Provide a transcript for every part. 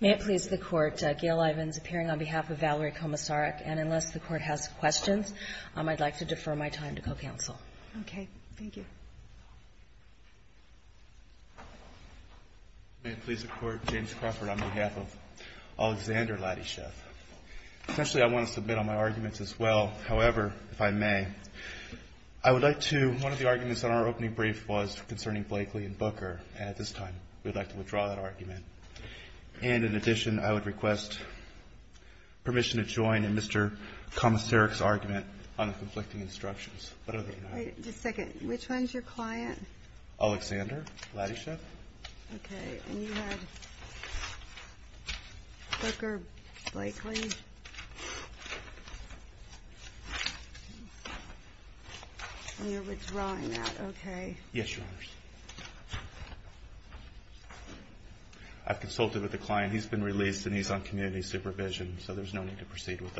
May it please the Court, Gail Ivins, appearing on behalf of Valerie Komisarek, and unless the Court has questions, I'd like to defer my time to co-counsel. Okay. Thank you. May it please the Court, James Crawford, on behalf of Alexander Latyshev. Essentially, I want to submit on my arguments as well. However, if I may, I would like to—one of the arguments in our opening brief was concerning Blakely and Booker, and at this time we'd like to withdraw that argument. And in addition, I would request permission to join in Mr. Komisarek's argument on the conflicting instructions. What other can I— Wait. Just a second. Which one's your client? Alexander Latyshev. Okay. And you have Booker Blakely. And you're withdrawing that, okay. Yes, Your Honors. I've consulted with the client. He's been released, and he's on community supervision, so there's no need to proceed with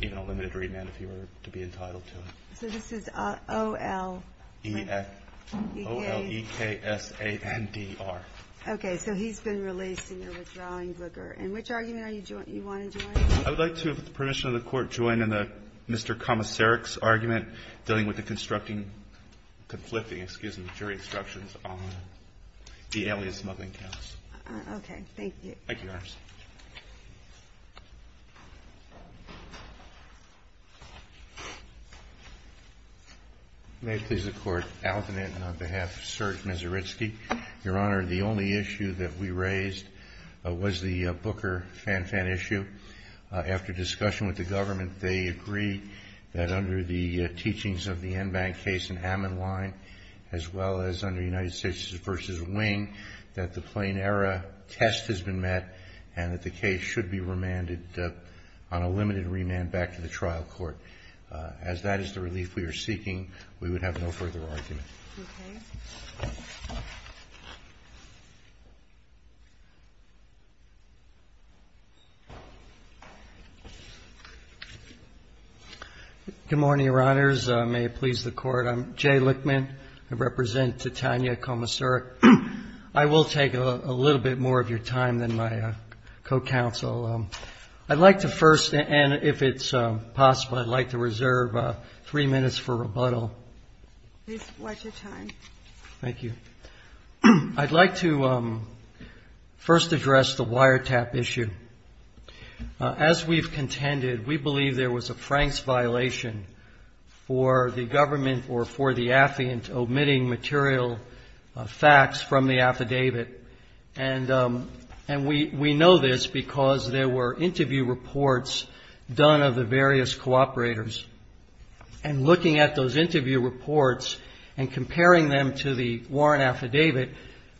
even a limited remand if you were to be entitled to it. So this is O-L-E-K-S-A-N-D-R. O-L-E-K-S-A-N-D-R. Okay. So he's been released, and you're withdrawing Booker. And which argument are you joining—you want to join? I would like to, with the permission of the Court, join in Mr. Komisarek's argument dealing with the constructing—conflicting, excuse me, jury instructions on the alias smuggling counts. Okay. Thank you. Thank you, Your Honors. May it please the Court, Alton and on behalf of Serge Mizoritsky, Your Honor, the only issue that we raised was the Booker-Fan-Fan issue. After discussion with the government, they agree that under the teachings of the Enbank case in Amman Line, as well as under United States v. Wing, that the plain error test has been met and that the case should be remanded on a limited remand back to the trial court. As that is the relief we are seeking, we would have no further argument. Okay. Good morning, Your Honors. May it please the Court. I'm Jay Lichtman. I represent Titania Komisarek. I will take a little bit more of your time than my co-counsel. I'd like to first, and if it's possible, I'd like to reserve three minutes for rebuttal. Please watch your time. Thank you. I'd like to first address the wiretap issue. As we've contended, we believe there was a Franks violation for the government or for the affluent omitting material facts from the affidavit. And we know this because there were interview reports done of the various cooperators. And looking at those interview reports and comparing them to the warrant affidavit,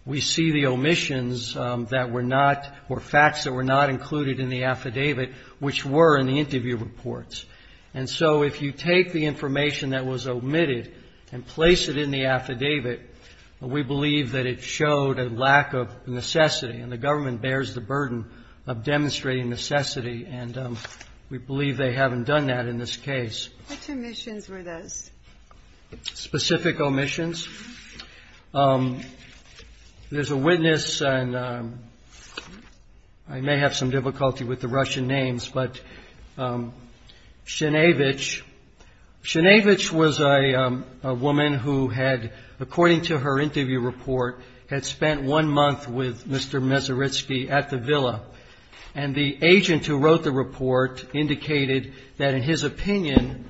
we see the omissions that were not or facts that were not included in the affidavit, which were in the interview reports. And so if you take the information that was omitted and place it in the affidavit, we believe that it showed a lack of necessity. And the government bears the burden of demonstrating necessity, and we believe they haven't done that in this case. Which omissions were those? Specific omissions. There's a witness, and I may have some difficulty with the Russian names, but Sinevich. Sinevich was a woman who had, according to her interview report, had spent one month with Mr. Mezaritsky at the villa. And the agent who wrote the report indicated that, in his opinion,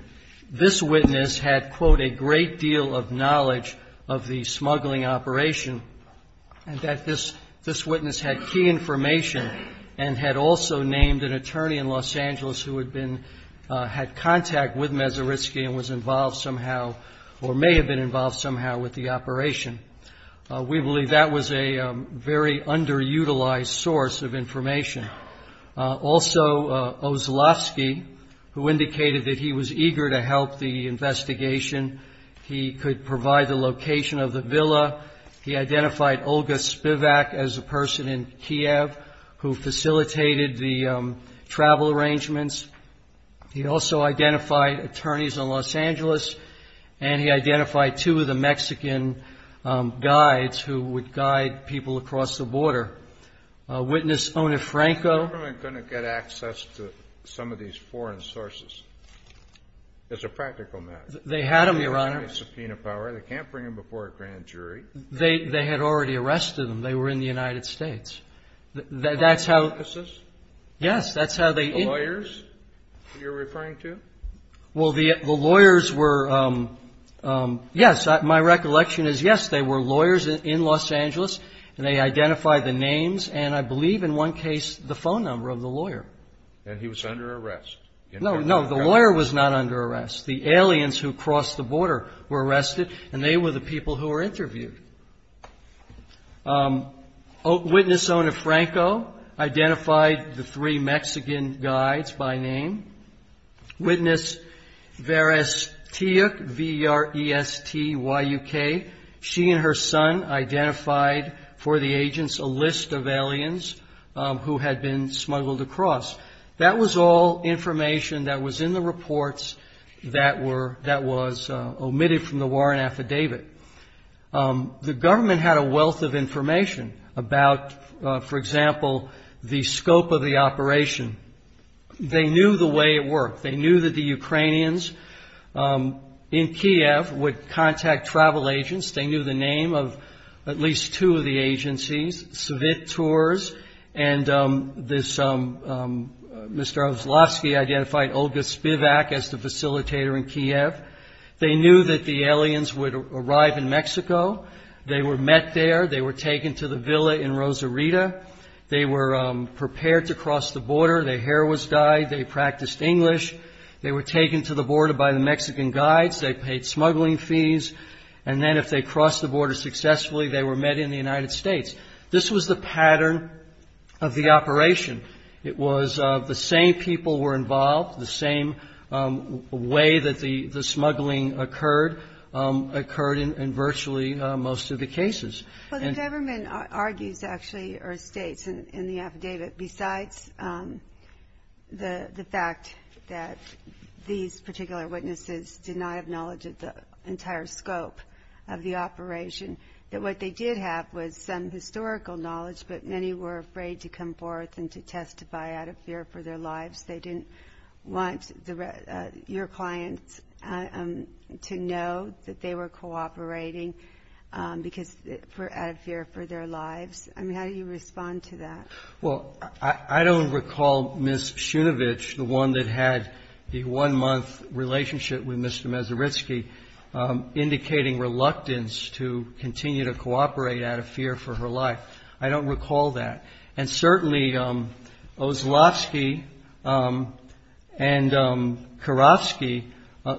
this witness had, quote, a great deal of knowledge of the smuggling operation, and that this witness had key information and had also named an attorney in Los Angeles who had been, had contact with Mezaritsky and was involved somehow or may have been involved somehow with the operation. We believe that was a very underutilized source of information. Also, Ozlovsky, who indicated that he was eager to help the investigation, he could provide the location of the villa. He identified Olga Spivak as a person in Kiev who facilitated the travel arrangements. He also identified attorneys in Los Angeles, and he identified two of the Mexican guides who would guide people across the border. Witness Onefranco. The government couldn't get access to some of these foreign sources. It's a practical matter. They had them, Your Honor. They can't bring a subpoena power. They can't bring them before a grand jury. They, they had already arrested them. They were in the United States. That's how. Law offices? Yes, that's how they. The lawyers you're referring to? Well, the, the lawyers were, yes, my recollection is, yes, they were lawyers in Los Angeles, and they identified the names, and I believe in one case, the phone number of the lawyer. And he was under arrest. No, no, the lawyer was not under arrest. The aliens who crossed the border were arrested, and they were the people who were interviewed. Witness Onefranco identified the three Mexican guides by name. Witness Verestuyuk, V-E-R-E-S-T-Y-U-K, she and her son identified for the agents a list of aliens who had been smuggled across. That was all information that was in the reports that were, that was omitted from the warrant affidavit. The government had a wealth of information about, for example, the scope of the operation. They knew the way it worked. They knew that the Ukrainians in Kiev would contact travel agents. They knew the name of at least two of the agencies, Svit Tours, and this, Mr. Oslovsky identified Olga Spivak as the facilitator in Kiev. They knew that the aliens would arrive in Mexico. They were met there. They were taken to the villa in Rosarito. They were prepared to cross the border. Their hair was dyed. They practiced English. They were taken to the border by the Mexican guides. They paid smuggling fees. And then if they crossed the border successfully, they were met in the United States. This was the pattern of the operation. It was the same people were involved, the same way that the smuggling occurred, occurred in virtually most of the cases. And the government argues, actually, or states in the affidavit, besides the fact that these particular witnesses did not have knowledge of the entire scope of the operation, that what they did have was some historical knowledge, but many were afraid to come forth and to your clients, to know that they were cooperating out of fear for their lives. How do you respond to that? Well, I don't recall Ms. Shunovich, the one that had the one-month relationship with Mr. Mazuritsky, indicating reluctance to continue to cooperate out of fear for her life. I don't recall Ms. Kurofsky.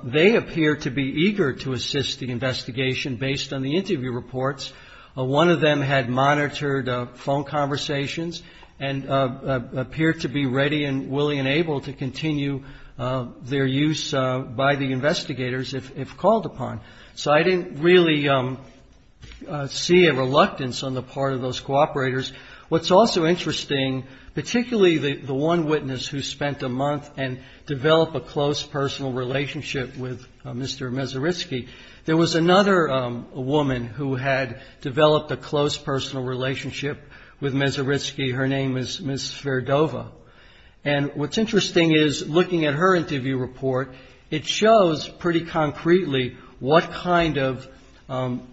They appeared to be eager to assist the investigation based on the interview reports. One of them had monitored phone conversations and appeared to be ready and willing and able to continue their use by the investigators if called upon. So I didn't really see a reluctance on the part of those cooperators. What's also interesting, particularly the one witness who spent a month and developed a close personal relationship with Mr. Mazuritsky, there was another woman who had developed a close personal relationship with Mazuritsky. Her name is Ms. Sverdova. And what's interesting is looking at her interview report, it shows pretty concretely what kind of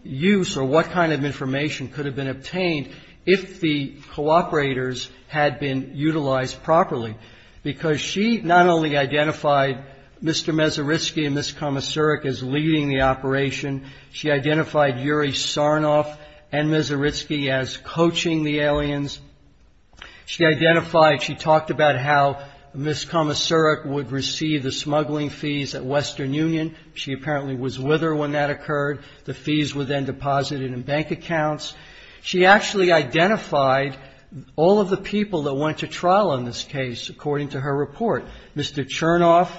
use or what kind of information could have been obtained if the cooperators had been utilized properly, because she not only identified Mr. Mazuritsky and Ms. Komisarek as leading the operation. She identified Yuri Sarnoff and Mazuritsky as coaching the aliens. She identified, she talked about how Ms. Komisarek would receive the smuggling fees at Western Union. She apparently was with her when that occurred. The fees were then deposited in bank accounts. She actually identified all of the people that went to trial on this case, according to her report. Mr. Chernoff,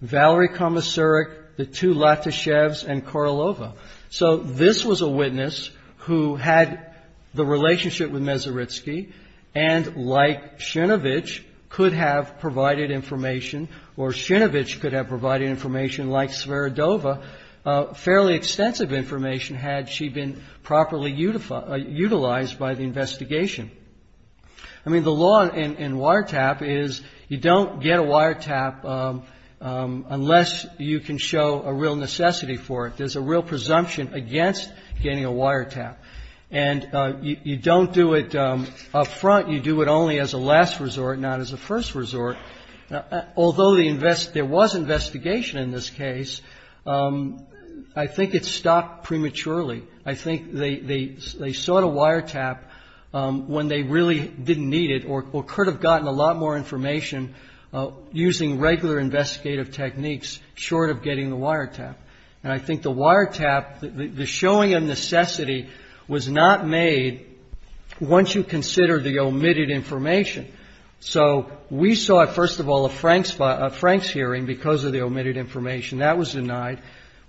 Valerie Komisarek, the two Latyshevs, and Karlova. So this was a witness who had the relationship with Mazuritsky and, like Shinovich, could have provided information, or Shinovich could have provided information like Sverdova, otherwise, by the investigation. I mean, the law in wiretap is you don't get a wiretap unless you can show a real necessity for it. There's a real presumption against getting a wiretap. And you don't do it up front. You do it only as a last resort, not as a first resort. Although there was investigation in this case, I think it stopped prematurely. I think they sought a wiretap when they really didn't need it or could have gotten a lot more information using regular investigative techniques short of getting the wiretap. And I think the wiretap, the showing of necessity was not made once you consider the omitted information. So we saw, first of all, a Franks hearing because of the omitted information. That was denied.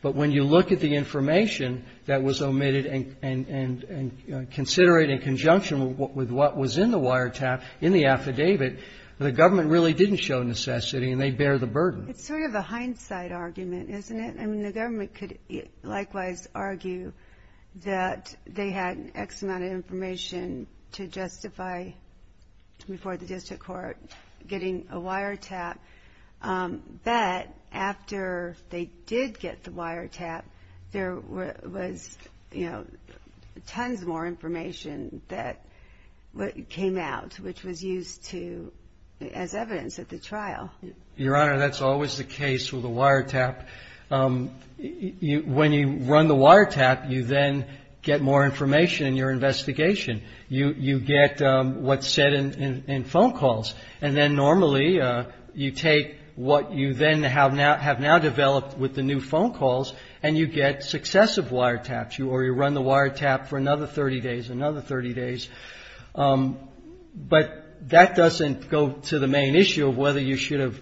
But when you look at the information that was omitted and consider it in conjunction with what was in the wiretap in the affidavit, the government really didn't show necessity, and they bear the burden. It's sort of a hindsight argument, isn't it? I mean, the government could likewise argue that they had X amount of information to justify, before the district court, getting a wiretap. But after they did get the wiretap, there was tons more information that came out, which was used as evidence at the trial. Your Honor, that's always the case with a wiretap. When you run the wiretap, you then get more information in your investigation. You get what's said in phone calls. And then you take what you then have now developed with the new phone calls, and you get successive wiretaps, or you run the wiretap for another 30 days, another 30 days. But that doesn't go to the main issue of whether you should have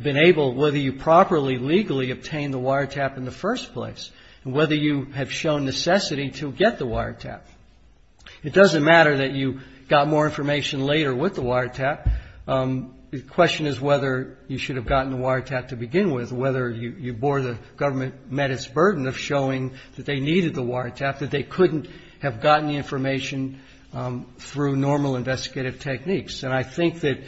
been able, whether you properly, legally obtained the wiretap in the first place, and whether you have shown necessity to get the wiretap. It doesn't matter that you got more information later with the wiretap. The question is whether you should have gotten the wiretap to begin with, whether you bore the government met its burden of showing that they needed the wiretap, that they couldn't have gotten the information through normal investigative techniques. And I think that,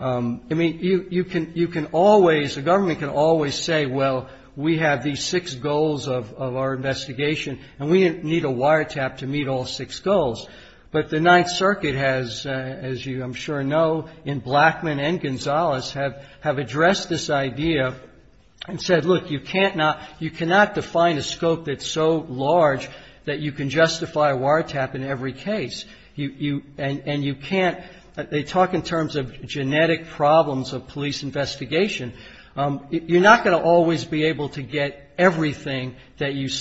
I mean, you can always, the government can always say, well, we have these six goals of our investigation, and we need a wiretap to meet all six goals. But the Ninth Circuit has, as you I'm sure know, in Blackman and Gonzalez, have addressed this idea and said, look, you can't not, you cannot define a scope that's so large that you can justify a wiretap in every case. You, and you can't, they talk in terms of genetic problems of police investigation. You're not going to always be able to get everything that you need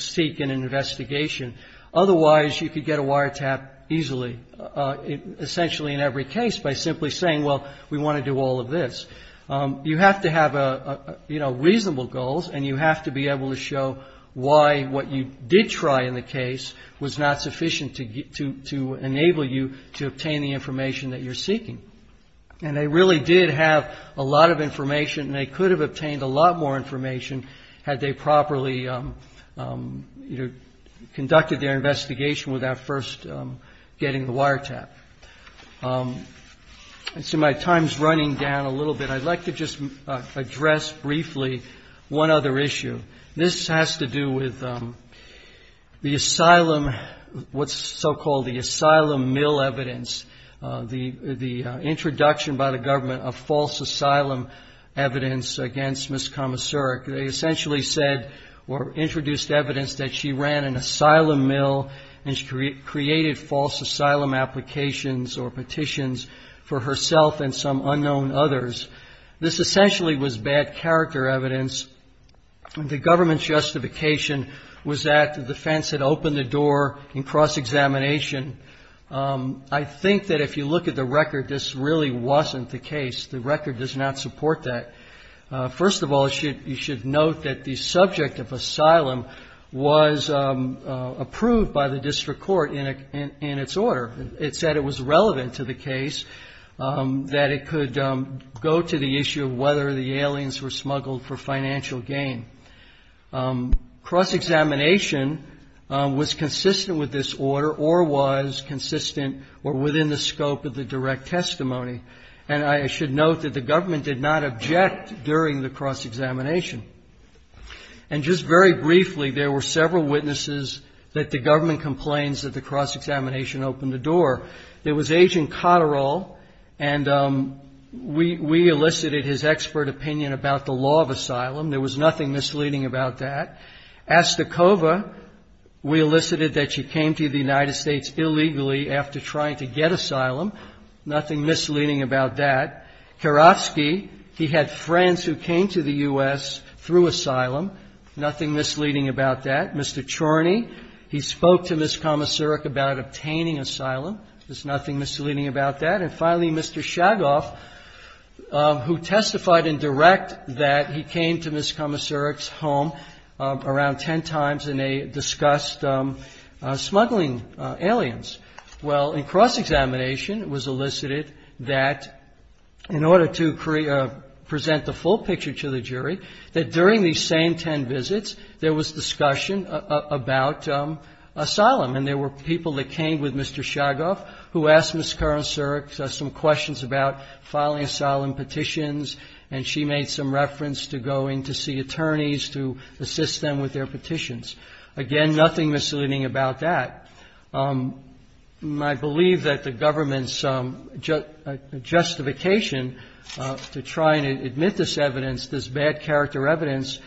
to get a wiretap easily, essentially in every case by simply saying, well, we want to do all of this. You have to have, you know, reasonable goals, and you have to be able to show why what you did try in the case was not sufficient to enable you to obtain the information that you're seeking. And they really did have a lot of information, and they could have obtained a lot more information had they properly, you know, conducted their investigation without first getting the wiretap. And so my time's running down a little bit. I'd like to just address briefly one other issue. This has to do with the asylum, what's so-called the asylum mill evidence, the introduction by the government of false asylum evidence against Ms. Komoserik. They essentially said or introduced evidence that she ran an asylum mill and she created false asylum applications or petitions for herself and some unknown others. This essentially was bad character evidence. The government's justification was that the defense had opened the door in cross-examination. I think that if you look at the record, this really wasn't the case. The record does not support that. First of all, you should note that the subject of asylum was approved by the district court in its order. It said it was relevant to the case, that it could go to the issue of whether the aliens were smuggled for financial gain. Cross-examination was consistent with this order or was consistent or within the scope of the direct testimony. And I should note that the government did not object during the cross-examination. And just very briefly, there were several witnesses that the government complains that the cross-examination opened the door. There was Agent Cotterell, and we elicited his expert opinion about the law of asylum. There was nothing misleading about that. Astakova, we elicited that she came to the United States illegally after trying to get asylum. Nothing misleading about that. Kirovsky, he had friends who came to the U.S. through asylum. Nothing misleading about that. Mr. Chorney, he spoke to Ms. Komoseruk about obtaining asylum. There's nothing misleading about that. And finally, Mr. Chagoff, who testified in direct that he came to Ms. Komoseruk's home around ten times, and they discussed smuggling aliens. Well, in cross-examination, it was elicited that in order to present the full picture to the jury, that during these same ten visits, there was discussion about asylum. And there were people that came with Mr. Chagoff, who asked Ms. Komoseruk some questions about filing asylum petitions, and she made some reference to going to see attorneys to assist them with their petitions. Again, nothing misleading about that. I believe that the government's justification to try and admit this evidence, this bad character evidence,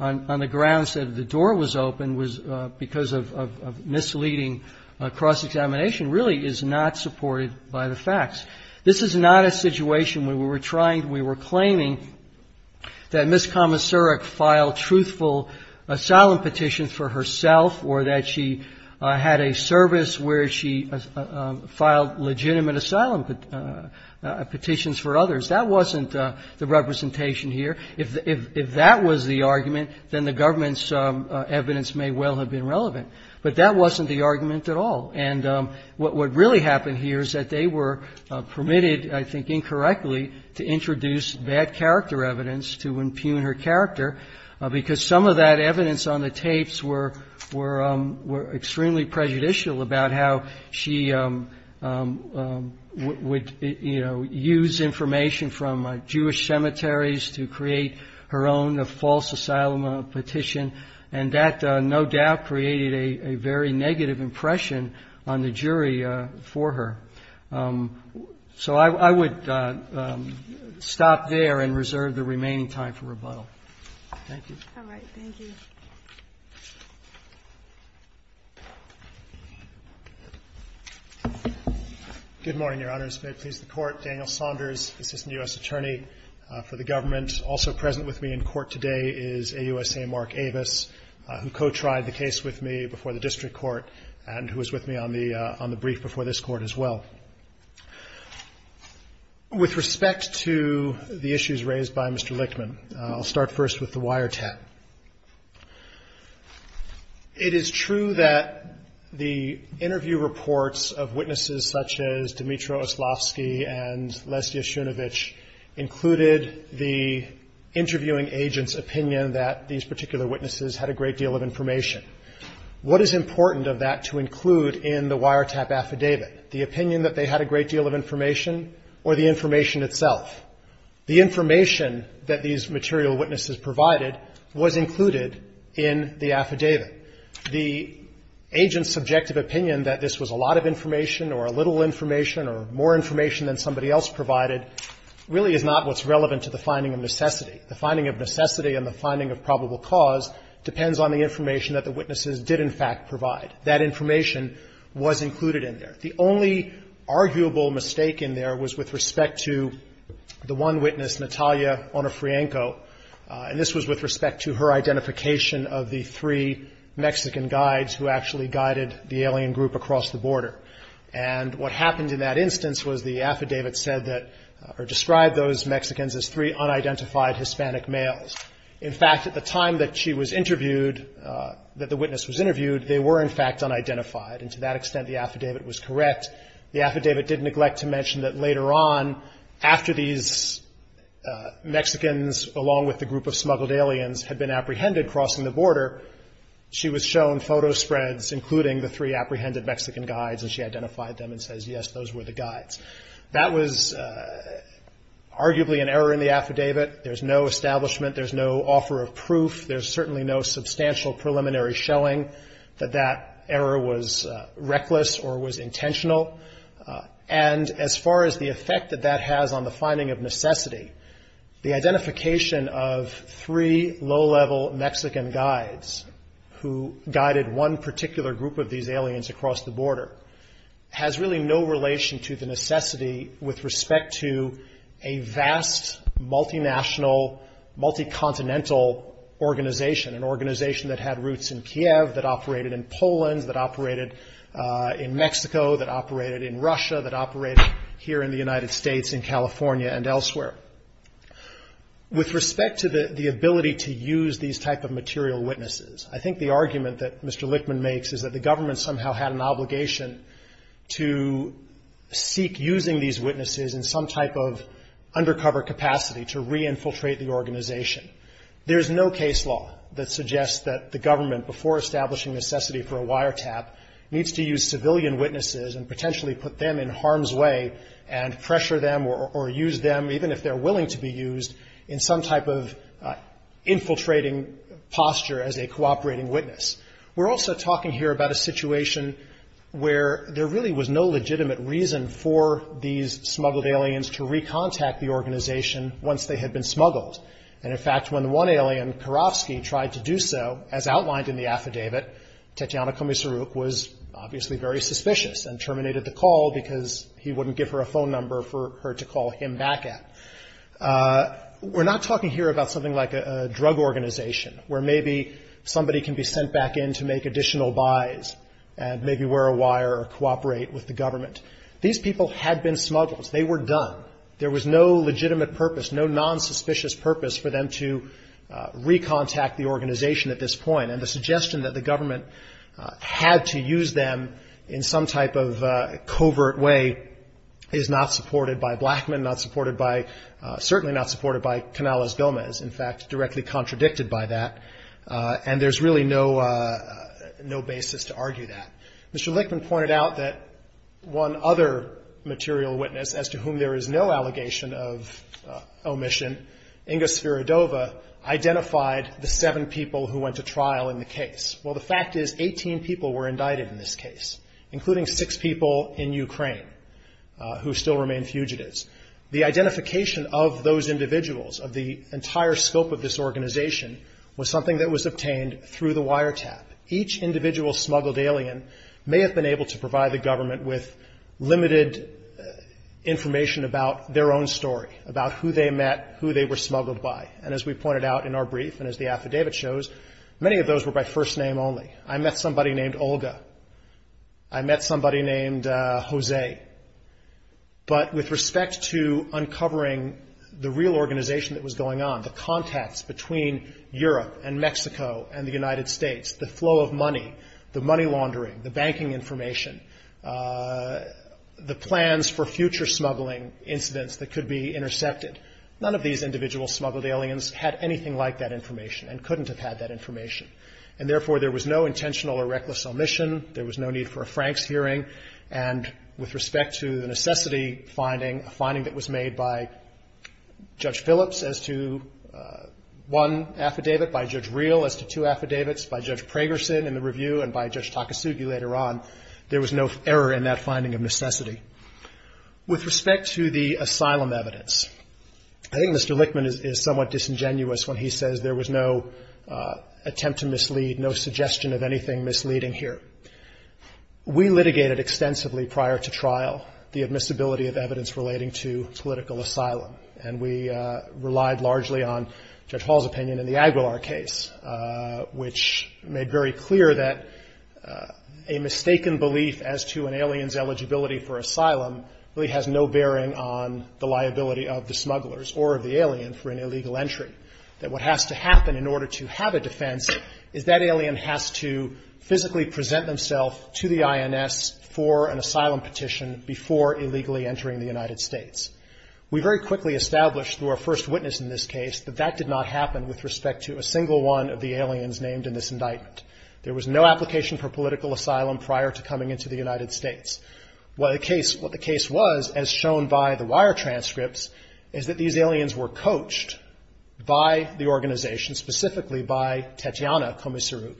on the grounds that the door was open was because of misleading cross-examination, really is not supported by the facts. This is not a situation where we were trying, we were claiming that Ms. Komoseruk filed truthful asylum petitions for herself or that she had a service where she filed legitimate asylum petitions for others. That wasn't the representation here. If that was the argument at all. And what really happened here is that they were permitted, I think incorrectly, to introduce bad character evidence to impugn her character, because some of that evidence on the tapes were extremely prejudicial about how she would, you know, use information from Jewish cemeteries to create her own false asylum petition, and that, no doubt, created a very negative impression on the jury for her. So I would stop there and reserve the remaining time for rebuttal. Thank you. All right. Thank you. Good morning, Your Honors. May it please the Court. Daniel Saunders, Assistant U.S. Attorney for the Government. Also present with me in court today is AUSA Mark Avis, who co-tried the case with me before the district court and who was with me on the brief before this court as well. With respect to the issues raised by Mr. Lichtman, I'll start first with the wiretap. It is true that the interview reports of witnesses such as Dmitry Oslofsky and Lesya Shunovich included the interviewing agent's opinion that these particular witnesses had a great deal of information. What is important of that to include in the wiretap affidavit? The opinion that they had a great deal of information or the information itself? The information that these material witnesses provided was included in the affidavit. The agent's subjective opinion that this was a lot of information or a little information or more information than somebody else provided really is not what's relevant to the finding of necessity. The finding of necessity and the finding of probable cause depends on the information that the witnesses did in fact provide. That information was included in there. The only arguable mistake in there was with respect to the one witness, Natalia Onofrienko, and this was with respect to her family. What happened in that instance was the affidavit said that or described those Mexicans as three unidentified Hispanic males. In fact, at the time that she was interviewed, that the witness was interviewed, they were in fact unidentified, and to that extent the affidavit was correct. The affidavit did neglect to mention that later on, after these Mexicans, along with the group of smuggled aliens, had been apprehended crossing the border, she was shown photo spreads, including the three apprehended Mexican guides, and she identified them and says, yes, those were the guides. That was arguably an error in the affidavit. There's no establishment. There's no offer of proof. There's certainly no substantial preliminary showing that that error was reckless or was intentional. And as far as the effect that that has on the finding of necessity, the identification of three low-level Mexican guides who guided one particular group of these aliens across the border has really no relation to the necessity with respect to a vast, multinational, multi-continental organization, an organization that had roots in Kiev, that operated in Poland, that operated in Mexico, that operated in Russia, that operated here in the United States, in California, and elsewhere. With respect to the ability to use these type of material witnesses, I think the argument that Mr. Lichtman makes is that the government somehow had an obligation to seek using these witnesses in some type of undercover capacity to re-infiltrate the organization. There's no case law that suggests that the government, before establishing necessity for a wiretap, needs to use civilian witnesses and potentially put them in harm's way and pressure them or use them, even if they're willing to be used, in some type of infiltrating posture as a cooperating witness. We're also talking here about a situation where there really was no legitimate reason for these smuggled aliens to re-contact the organization once they had been smuggled. Tatyana Komissaruk was obviously very suspicious and terminated the call because he wouldn't give her a phone number for her to call him back at. We're not talking here about something like a drug organization where maybe somebody can be sent back in to make additional buys and maybe wear a wire or cooperate with the government. These people had been smuggled. They were done. There was no reason that the government had to use them in some type of covert way is not supported by Blackmun, not supported by, certainly not supported by Canales-Gomez. In fact, directly contradicted by that. And there's really no basis to argue that. Mr. Lichtman pointed out that one other material witness as to whom there is no allegation of omission, Inga Sviridova, identified the seven people who went to trial in the case. Well, the fact is 18 people were indicted in this case, including six people in Ukraine who still remain fugitives. The identification of those individuals, of the entire scope of this organization, was something that was obtained through the wiretap. Each individual smuggled alien may have been able to provide the government with limited information about their own story, about who they met, who they were smuggled by. And as we pointed out in our brief and as the affidavit shows, many of those were by first name only. I met somebody named Olga. I met somebody named Jose. But with respect to uncovering the real organization that was going on, the contacts between Europe and Mexico and the United States, the flow of money, the money laundering, the banking information, the plans for future smuggling incidents that could be smuggled aliens had anything like that information and couldn't have had that information. And therefore, there was no intentional or reckless omission. There was no need for a Franks hearing. And with respect to the necessity finding, a finding that was made by Judge Phillips as to one affidavit, by Judge Reel as to two affidavits, by Judge Pragerson in the review and by Judge Takasugi later on, there was no error in that finding of necessity. With respect to the asylum evidence, I think Mr. Lichtman is somewhat disingenuous when he says there was no attempt to mislead, no suggestion of anything misleading here. We litigated extensively prior to trial the admissibility of evidence relating to political asylum. And we relied largely on Judge Hall's opinion in the Aguilar case, which made very clear that a mistaken belief as to an alien's eligibility for asylum really has no bearing on the liability of the smugglers or of the alien for an illegal entry. That what has to happen in order to have a defense is that alien has to physically present themselves to the INS for an asylum petition before illegally entering the United States. We very quickly established through our first witness in this case that that did not happen with respect to a single one of the aliens named in this indictment. There was no application for political asylum prior to coming into the United States. What the case was, as shown by the wire transcripts, is that these aliens were coached by the organization, specifically by Tetiana Komisaruk,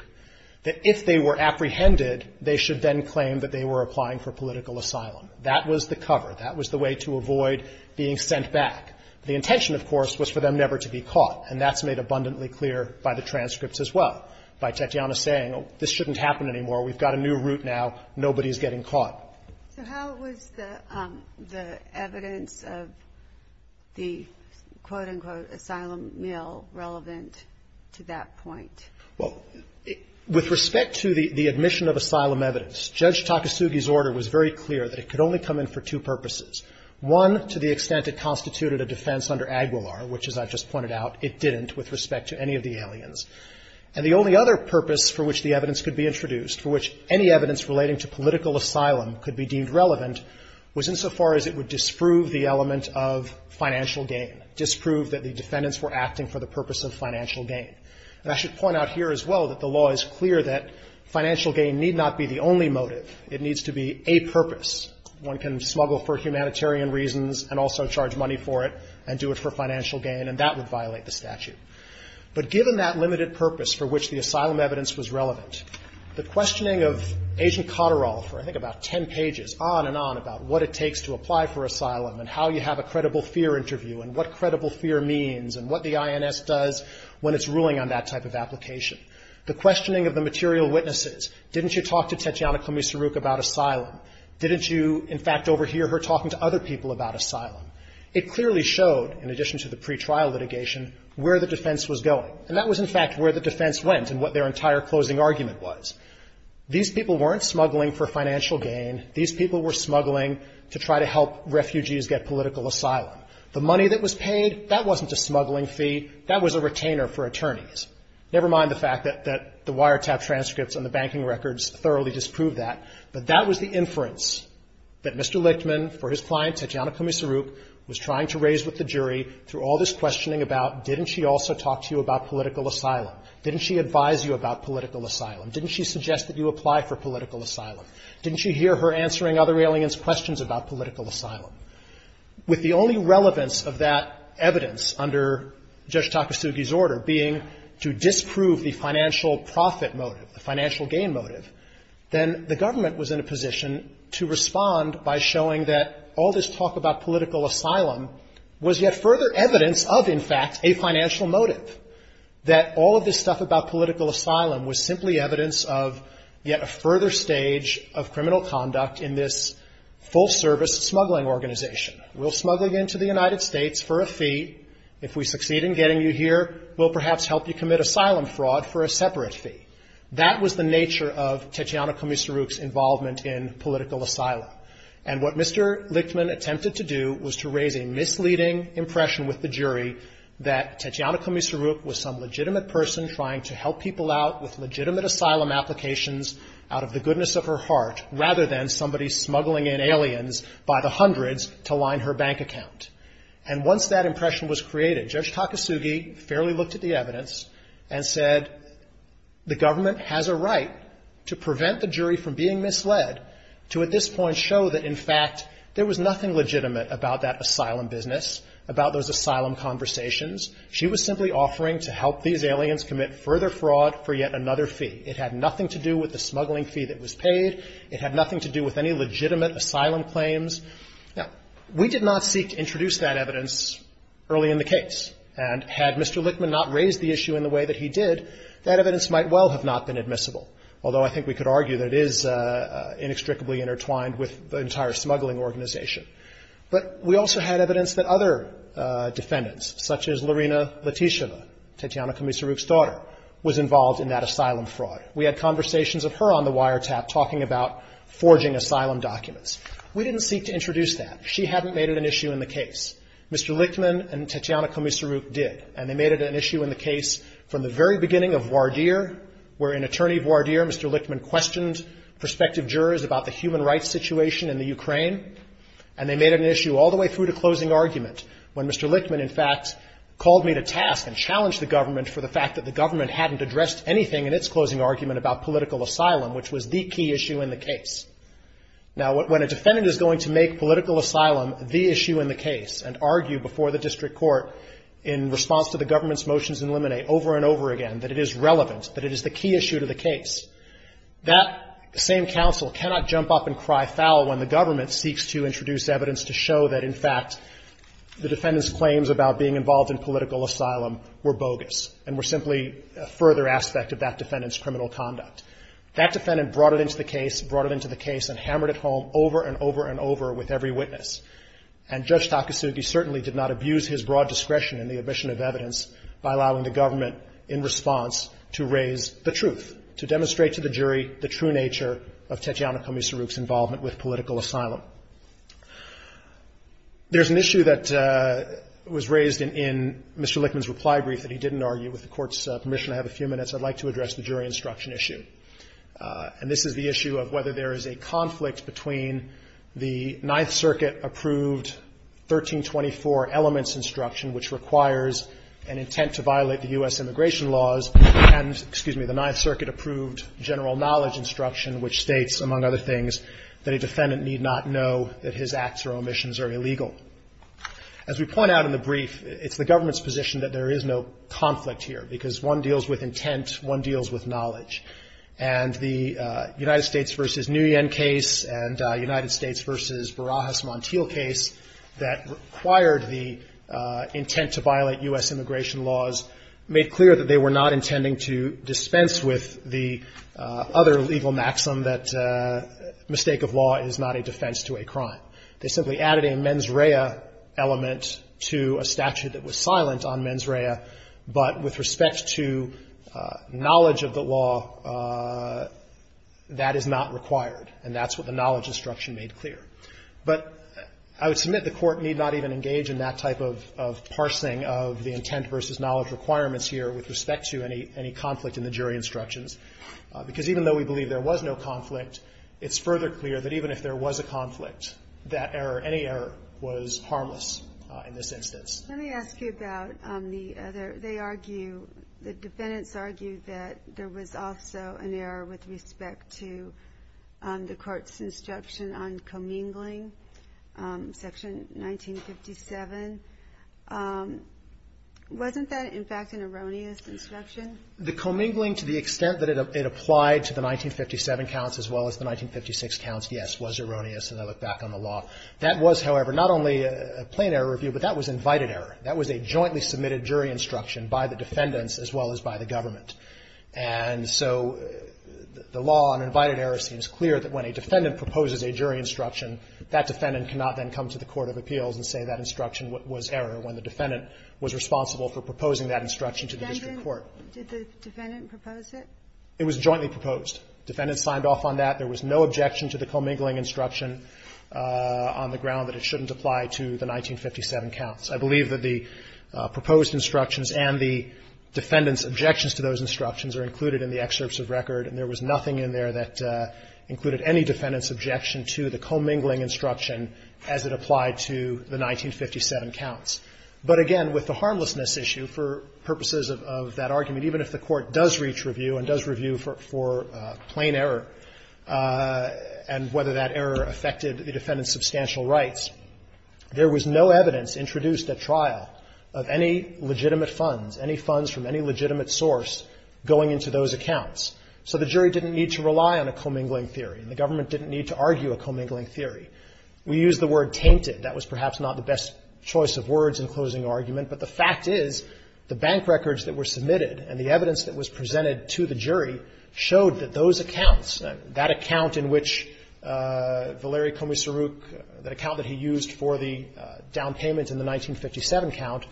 that if they were apprehended, they should then claim that they were applying for political asylum. That was the cover. That was the way to avoid being sent back. The intention, of course, was for them never to be caught. And that's made abundantly clear by the transcripts as well, by Tetiana saying, oh, this shouldn't happen anymore. We've got a new route now. Nobody's getting caught. So how was the evidence of the, quote, unquote, asylum mill relevant to that point? Well, with respect to the admission of asylum evidence, Judge Takasugi's order was very One, to the extent it constituted a defense under Aguilar, which, as I've just pointed out, it didn't with respect to any of the aliens. And the only other purpose for which the evidence could be introduced, for which any evidence relating to political asylum could be deemed relevant, was insofar as it would disprove the element of financial gain, disprove that the defendants were acting for the purpose of financial gain. And I should point out here as well that the law is clear that financial gain need not be the only motive. It needs to be a purpose. One can smuggle for humanitarian reasons and also charge money for it and do it for financial gain, and that would violate the statute. But given that limited purpose for which the asylum evidence was relevant, the questioning of Agent Cotterall for, I think, about ten pages on and on about what it takes to apply for asylum and how you have a credible fear interview and what credible fear means and what the INS does when it's ruling on that type of application, the questioning of the material witnesses, didn't you talk to Tetiana Komisaruk about asylum? Didn't you, in fact, overhear her talking to other people about asylum? It clearly showed, in addition to the pretrial litigation, where the defense was going. And that was, in fact, where the defense went and what their entire closing argument was. These people weren't smuggling for financial gain. These people were smuggling to try to help refugees get political asylum. The money that was paid, that wasn't a smuggling fee. That was a retainer for attorneys. Never mind the fact that the wiretap transcripts and the banking records thoroughly disprove that. But that was the inference that Mr. Lichtman, for his client, Tetiana Komisaruk, was trying to raise with the jury through all this questioning about, didn't she also talk to you about political asylum? Didn't she advise you about political asylum? Didn't she suggest that you apply for political asylum? Didn't she hear her answering other aliens' questions about political asylum? With the only relevance of that evidence under Judge Takasugi's order being that to disprove the financial profit motive, the financial gain motive, then the government was in a position to respond by showing that all this talk about political asylum was yet further evidence of, in fact, a financial motive, that all of this stuff about political asylum was simply evidence of yet a further stage of criminal conduct in this full-service smuggling organization. We'll smuggle you into the United States for a fee. If we succeed in getting you here, we'll perhaps help you commit asylum fraud for a separate fee. That was the nature of Tetiana Komisaruk's involvement in political asylum. And what Mr. Lichtman attempted to do was to raise a misleading impression with the jury that Tetiana Komisaruk was some legitimate person trying to help people out with legitimate asylum applications out of the goodness of her heart rather than somebody smuggling in aliens by the hundreds to line her bank account. And once that impression was created, Judge Takasugi fairly looked at the evidence and said, the government has a right to prevent the jury from being misled to at this point show that, in fact, there was nothing legitimate about that asylum business, about those asylum conversations. She was simply offering to help these aliens commit further fraud for yet another fee. It had nothing to do with the smuggling fee that was paid. It had nothing to do with any legitimate asylum claims. Now, we did not seek to introduce that evidence early in the case. And had Mr. Lichtman not raised the issue in the way that he did, that evidence might well have not been admissible, although I think we could argue that it is inextricably intertwined with the entire smuggling organization. But we also had evidence that other defendants, such as Lorena Latysheva, Tatyana Komisaruk's daughter, was involved in that asylum fraud. We had conversations of her on the wiretap talking about forging asylum documents. We didn't seek to introduce that. She hadn't made it an issue in the case. Mr. Lichtman and Tatyana Komisaruk did. And they made it an issue in the case from the very beginning of the case. And they made it an issue all the way through to closing argument, when Mr. Lichtman, in fact, called me to task and challenged the government for the fact that the government hadn't addressed anything in its closing argument about political asylum, which was the key issue in the case. Now, when a defendant is going to make political asylum the issue in the case and argue before the district court in response to the government's motions in limine over and over again that it is relevant, that it is the key issue to the case, that same counsel cannot jump up and cry foul when the government seeks to introduce evidence to show that, in fact, the defendant's claims about being involved in political asylum were bogus and were simply a further aspect of that defendant's criminal conduct. That defendant brought it into the case, brought it into the case and hammered it home over and over and over with every witness. And Judge Takasugi certainly did not abuse his broad discretion in the admission of evidence by allowing the government in response to raise the truth, to demonstrate to the jury the true nature of Tatyana Komisaruk's involvement with political asylum. There's an issue that was raised in Mr. Lichtman's reply brief that he didn't argue. With the Court's permission, I have a few minutes. I'd like to address the jury instruction issue. And this is the issue of whether there is a conflict between the Ninth Circuit-approved 1324 elements instruction, which requires an intent to violate the U.S. immigration laws, and, excuse me, the Ninth Circuit-approved general knowledge instruction, which states, among other things, that a defendant need not know that his acts or omissions are illegal. As we point out in the brief, it's the government's position that there is no conflict here, because one deals with intent, one deals with knowledge. And the United States v. Nguyen case and United States v. Barajas-Montiel case that required the intent to violate U.S. immigration laws made clear that they were not intending to dispense with the other legal maxim that mistake of law is not a defense to a crime. They simply added a mens rea element to a statute that was silent on mens rea, but with respect to knowledge of the law, that is not required. And that's what the knowledge instruction made clear. But I would submit the Court need not even engage in that type of parsing of the intent v. knowledge requirements here with respect to any conflict in the jury instructions, because even though we believe there was no conflict, it's further clear that even if there was a conflict, that error, any error, was harmless in this instance. Let me ask you about the other. They argue, the defendants argue that there was also an error with respect to the Court's instruction on commingling, Section 1957. Wasn't that, in fact, an erroneous instruction? The commingling, to the extent that it applied to the 1957 counts as well as the 1956 counts, yes, was erroneous, and I look back on the law. That was, however, not only a plain error review, but that was invited error. That was a jointly submitted jury instruction by the defendants as well as by the government. And so the law on invited error seems clear that when a defendant proposes a jury instruction, that defendant cannot then come to the court of appeals and say that instruction was error, when the defendant was responsible for proposing that instruction to the district court. Did the defendant propose it? It was jointly proposed. Defendants signed off on that. There was no objection to the commingling instruction on the ground that it shouldn't apply to the 1957 counts. I believe that the proposed instructions and the defendants' objections to those instructions are included in the excerpts of record, and there was nothing in there that included any defendants' objection to the commingling instruction as it applied to the 1957 counts. But again, with the harmlessness issue, for purposes of that argument, even if the Court does reach review and does review for plain error, and whether that error affected the defendant's substantial rights, there was no evidence introduced at trial of any legitimate funds, any funds from any legitimate source going into those accounts. So the jury didn't need to rely on a commingling theory, and the government didn't need to argue a commingling theory. We need to look We used the word tainted. That was perhaps not the best choice of words in closing argument, but the fact is the bank records that were submitted and the evidence that was presented to the jury showed that those accounts, that account in which Valeriy Komissaruk, the account that he used for the down payment in the 1957 count,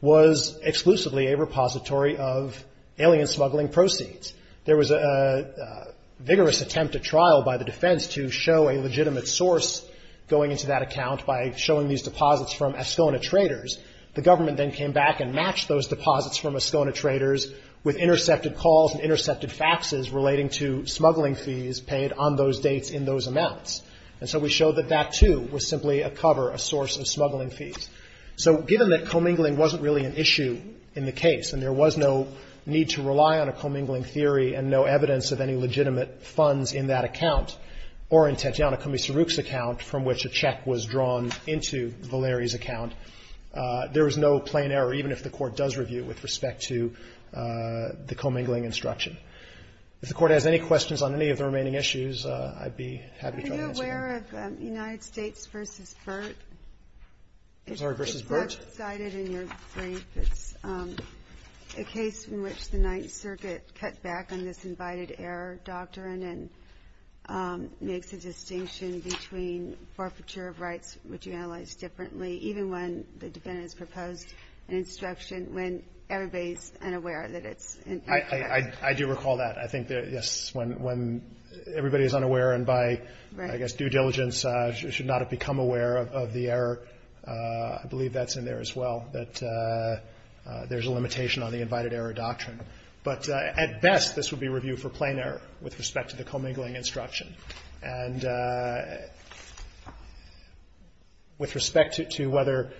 was exclusively a repository of alien smuggling proceeds. There was a vigorous attempt at trial by the defense to show a legitimate source going into those accounts by showing these deposits from Escona Traders. The government then came back and matched those deposits from Escona Traders with intercepted calls and intercepted faxes relating to smuggling fees paid on those dates in those amounts. And so we showed that that, too, was simply a cover, a source of smuggling fees. So given that commingling wasn't really an issue in the case, and there was no need to rely on a commingling theory and no evidence of any legitimate funds in that account, or in Tetiana Komissaruk's account, from which a check was drawn into Valeriy's account, there was no plain error, even if the Court does review it, with respect to the commingling instruction. If the Court has any questions on any of the remaining issues, I'd be happy to try to answer them. Are you aware of United States v. Burtt? I'm sorry, v. Burtt? It's left-sided in your brief. It's a case in which the Ninth Circuit cut back on this I do recall that. I think that, yes, when everybody is unaware, and by, I guess, due diligence, should not have become aware of the error, I believe that's in there as well, that there's a limitation on the invited error doctrine. But at best, this would be reviewed for plain error with respect to the commingling instruction. And with respect to whether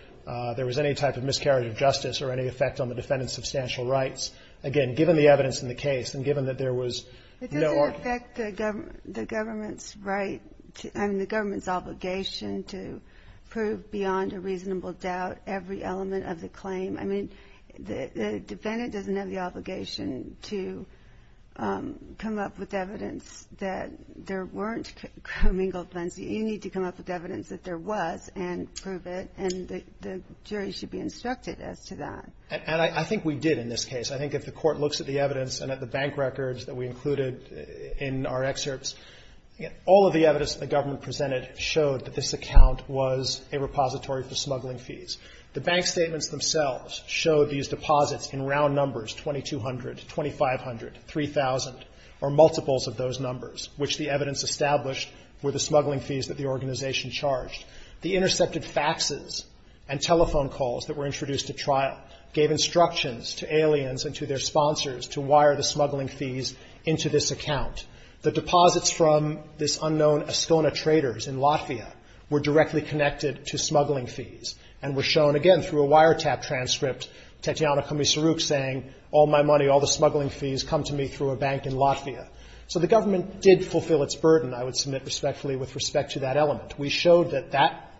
there was any type of miscarriage of justice or any effect on the defendant's substantial rights, again, given the evidence in the case and given that there was no argument It doesn't affect the government's right and the government's obligation to prove beyond a reasonable doubt every element of the claim. I mean, the defendant doesn't have the obligation to come up with evidence that there weren't commingled plans. You need to come up with evidence that there was and prove it, and the jury should be instructed as to that. And I think we did in this case. I think if the Court looks at the evidence and at the bank records that we included in our excerpts, all of the evidence that the government presented showed that this account was a repository for smuggling fees. The bank statements themselves showed these deposits in round numbers, 2,200, 2,500, 3,000, or multiples of those numbers, which the evidence established were the smuggling fees that the organization charged. The intercepted faxes and telephone calls that were introduced at trial gave instructions to aliens and to their sponsors to wire the smuggling fees into this account. The deposits from this unknown Estona traders in Latvia were directly connected to smuggling fees and were shown, again, through a wiretap transcript, Tatiana Komisaruk saying, all my money, all the smuggling fees come to me through a bank in Latvia. So the government did fulfill its burden, I would submit respectfully, with respect to that element. We showed that that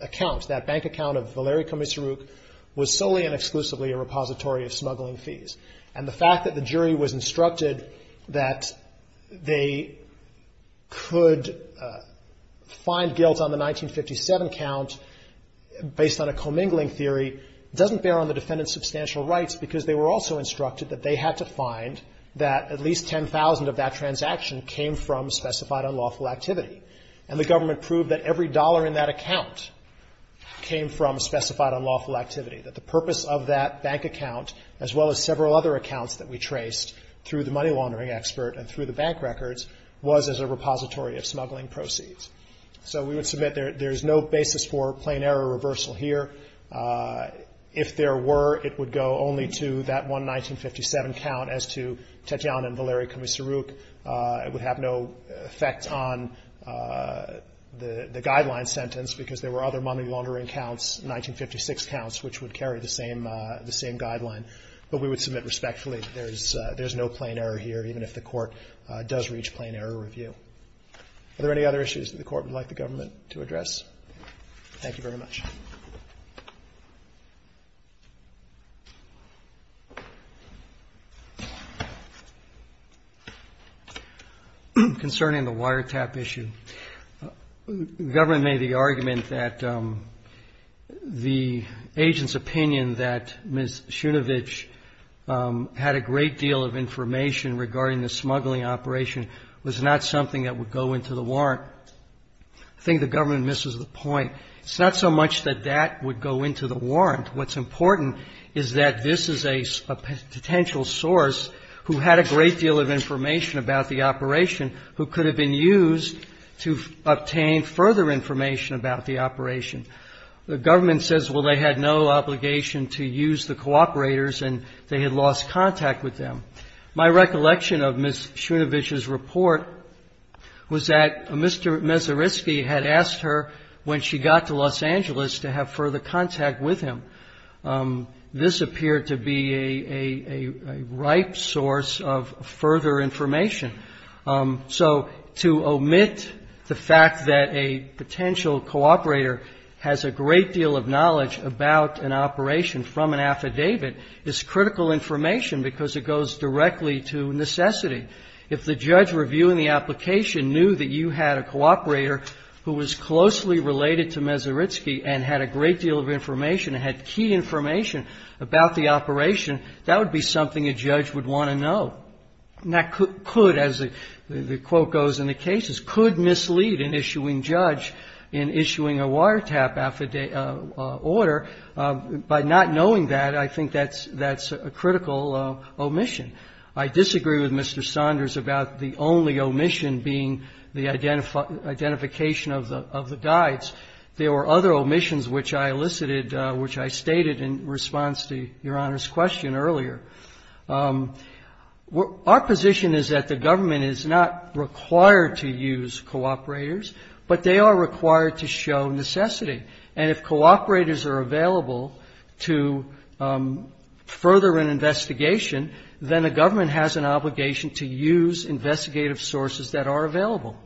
account, that bank account of Valerii Komisaruk, was solely and exclusively a repository of smuggling fees. And the fact that the jury was instructed that they could find guilt on the commingling theory doesn't bear on the defendant's substantial rights because they were also instructed that they had to find that at least 10,000 of that transaction came from specified unlawful activity. And the government proved that every dollar in that account came from specified unlawful activity, that the purpose of that bank account, as well as several other accounts that we traced through the money laundering expert and through the bank records, was as a repository of smuggling proceeds. So we would submit there's no basis for plain error reversal here. If there were, it would go only to that one 1957 count, as to Tatiana and Valerii Komisaruk. It would have no effect on the guideline sentence because there were other money laundering counts, 1956 counts, which would carry the same guideline. But we would submit respectfully that there's no plain error here, even if the Court does reach plain error review. Are there any other issues that the Court would like the government to address? Thank you very much. Concerning the wiretap issue, the government made the argument that the agent's opinion that Ms. Shunovich had a great deal of information regarding the smuggling operation was not something that would go into the warrant. I think the government misses the point. It's not so much that that would go into the warrant. What's important is that this is a potential source who had a great deal of information about the operation, who could have been used to obtain further information about the operation. The government says, well, they had no obligation to use the cooperators and they had lost contact with them. My recollection of Ms. Shunovich's report was that Mr. Mesersky had asked her, when she got to Los Angeles, to have further contact with him. This appeared to be a ripe source of further information. So to omit the fact that a potential cooperator has a great deal of knowledge about an operation from an affidavit is critical information because it goes directly to necessity. If the judge reviewing the application knew that you had a cooperator who was closely related to Mesersky and had a great deal of information, had key information about the operation, that would be something a judge would want to know. That could, as the quote goes in the cases, could mislead an issuing judge in issuing a wiretap order. By not knowing that, I think that's a critical omission. I disagree with Mr. Saunders about the only omission being the identification of the guides. There were other omissions which I elicited, which I stated in response to Your Honor's question earlier. Our position is that the government is not required to use cooperators, but they are required to show necessity. And if cooperators are available to further an investigation, then a government has an obligation to use investigative sources that are available.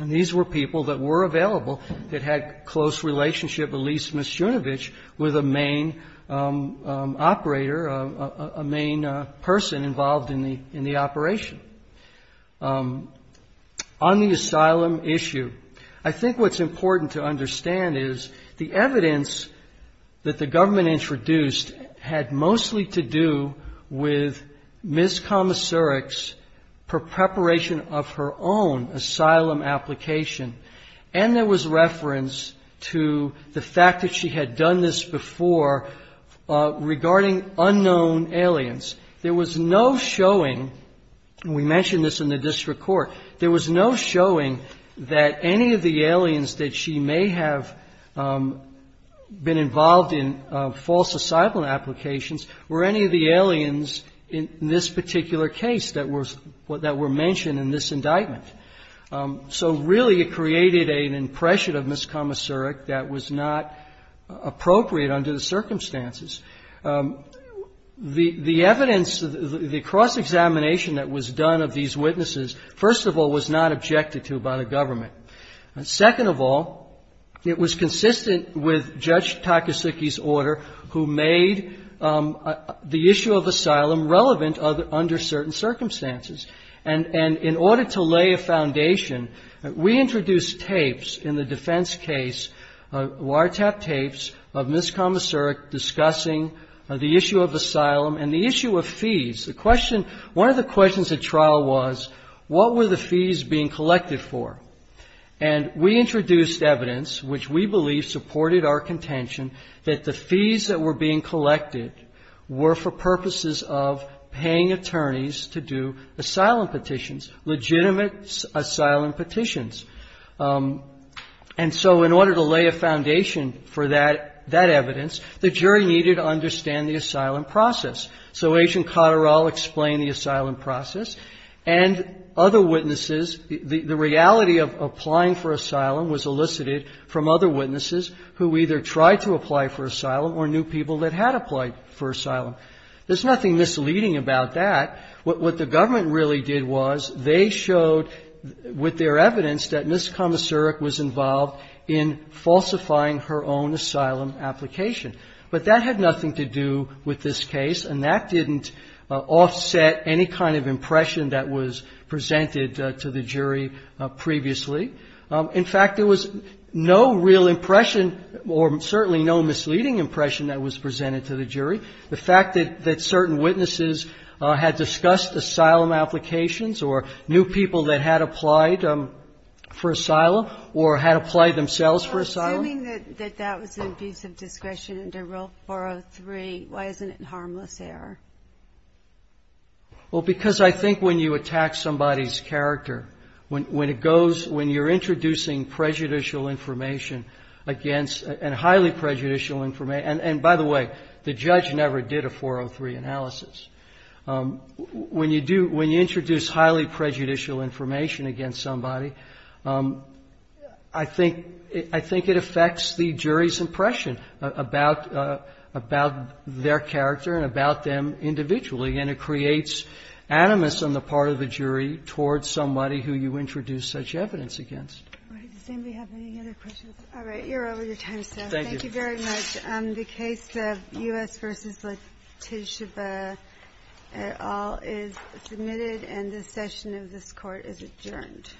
And these were people that were available that had close relationship, at least Mishunovich, with a main operator, a main person involved in the operation. On the asylum issue, I think what's important to understand is the evidence that the government introduced had mostly to do with Ms. Komoserik's preparation of her own asylum application. And there was reference to the fact that she had done this before regarding unknown aliens. There was no showing, and we mentioned this in the district court, there was no showing that any of the aliens that she may have been involved in false asylum applications were any of the aliens in this particular case that were mentioned in this indictment. So really it created an impression of Ms. Komoserik that was not appropriate under the circumstances. The evidence, the cross-examination that was done of these witnesses, first of all, was not objected to by the government. Second of all, it was consistent with Judge Takasugi's order who made the issue of asylum relevant under certain circumstances. And in order to lay a foundation, we introduced tapes in the defense case, wiretap tapes of Ms. Komoserik's discussing the issue of asylum and the issue of fees. The question, one of the questions at trial was, what were the fees being collected for? And we introduced evidence, which we believe supported our contention, that the fees that were being collected were for purposes of paying attorneys to do asylum petitions, legitimate asylum petitions. And so in order to lay a foundation for that evidence, we introduced a piece of evidence. The jury needed to understand the asylum process. So Agent Cotterall explained the asylum process. And other witnesses, the reality of applying for asylum was elicited from other witnesses who either tried to apply for asylum or knew people that had applied for asylum. There's nothing misleading about that. What the government really did was they showed, with their evidence, that Ms. Komoserik was involved in falsifying her own asylum application. But that had nothing to do with this case, and that didn't offset any kind of impression that was presented to the jury previously. In fact, there was no real impression or certainly no misleading impression that was presented to the jury. The fact that certain witnesses had discussed asylum applications or knew people that had applied for asylum or had applied themselves for asylum. Ginsburg. Well, assuming that that was an abuse of discretion under Rule 403, why isn't it a harmless error? Kneedler. Well, because I think when you attack somebody's character, when it goes, when you're introducing prejudicial information against, and highly prejudicial information, and by the way, the judge has said, if you introduce highly prejudicial information against somebody, I think it affects the jury's impression about their character and about them individually, and it creates animus on the part of the jury towards somebody who you introduce such evidence against. Ginsburg. Does anybody have any other questions? All right, you're over your time, sir. Kneedler. Thank you. Ginsburg. Thank you very much. The case of U.S. v. Letitia Baird et al. is submitted, and this session of this Court is adjourned.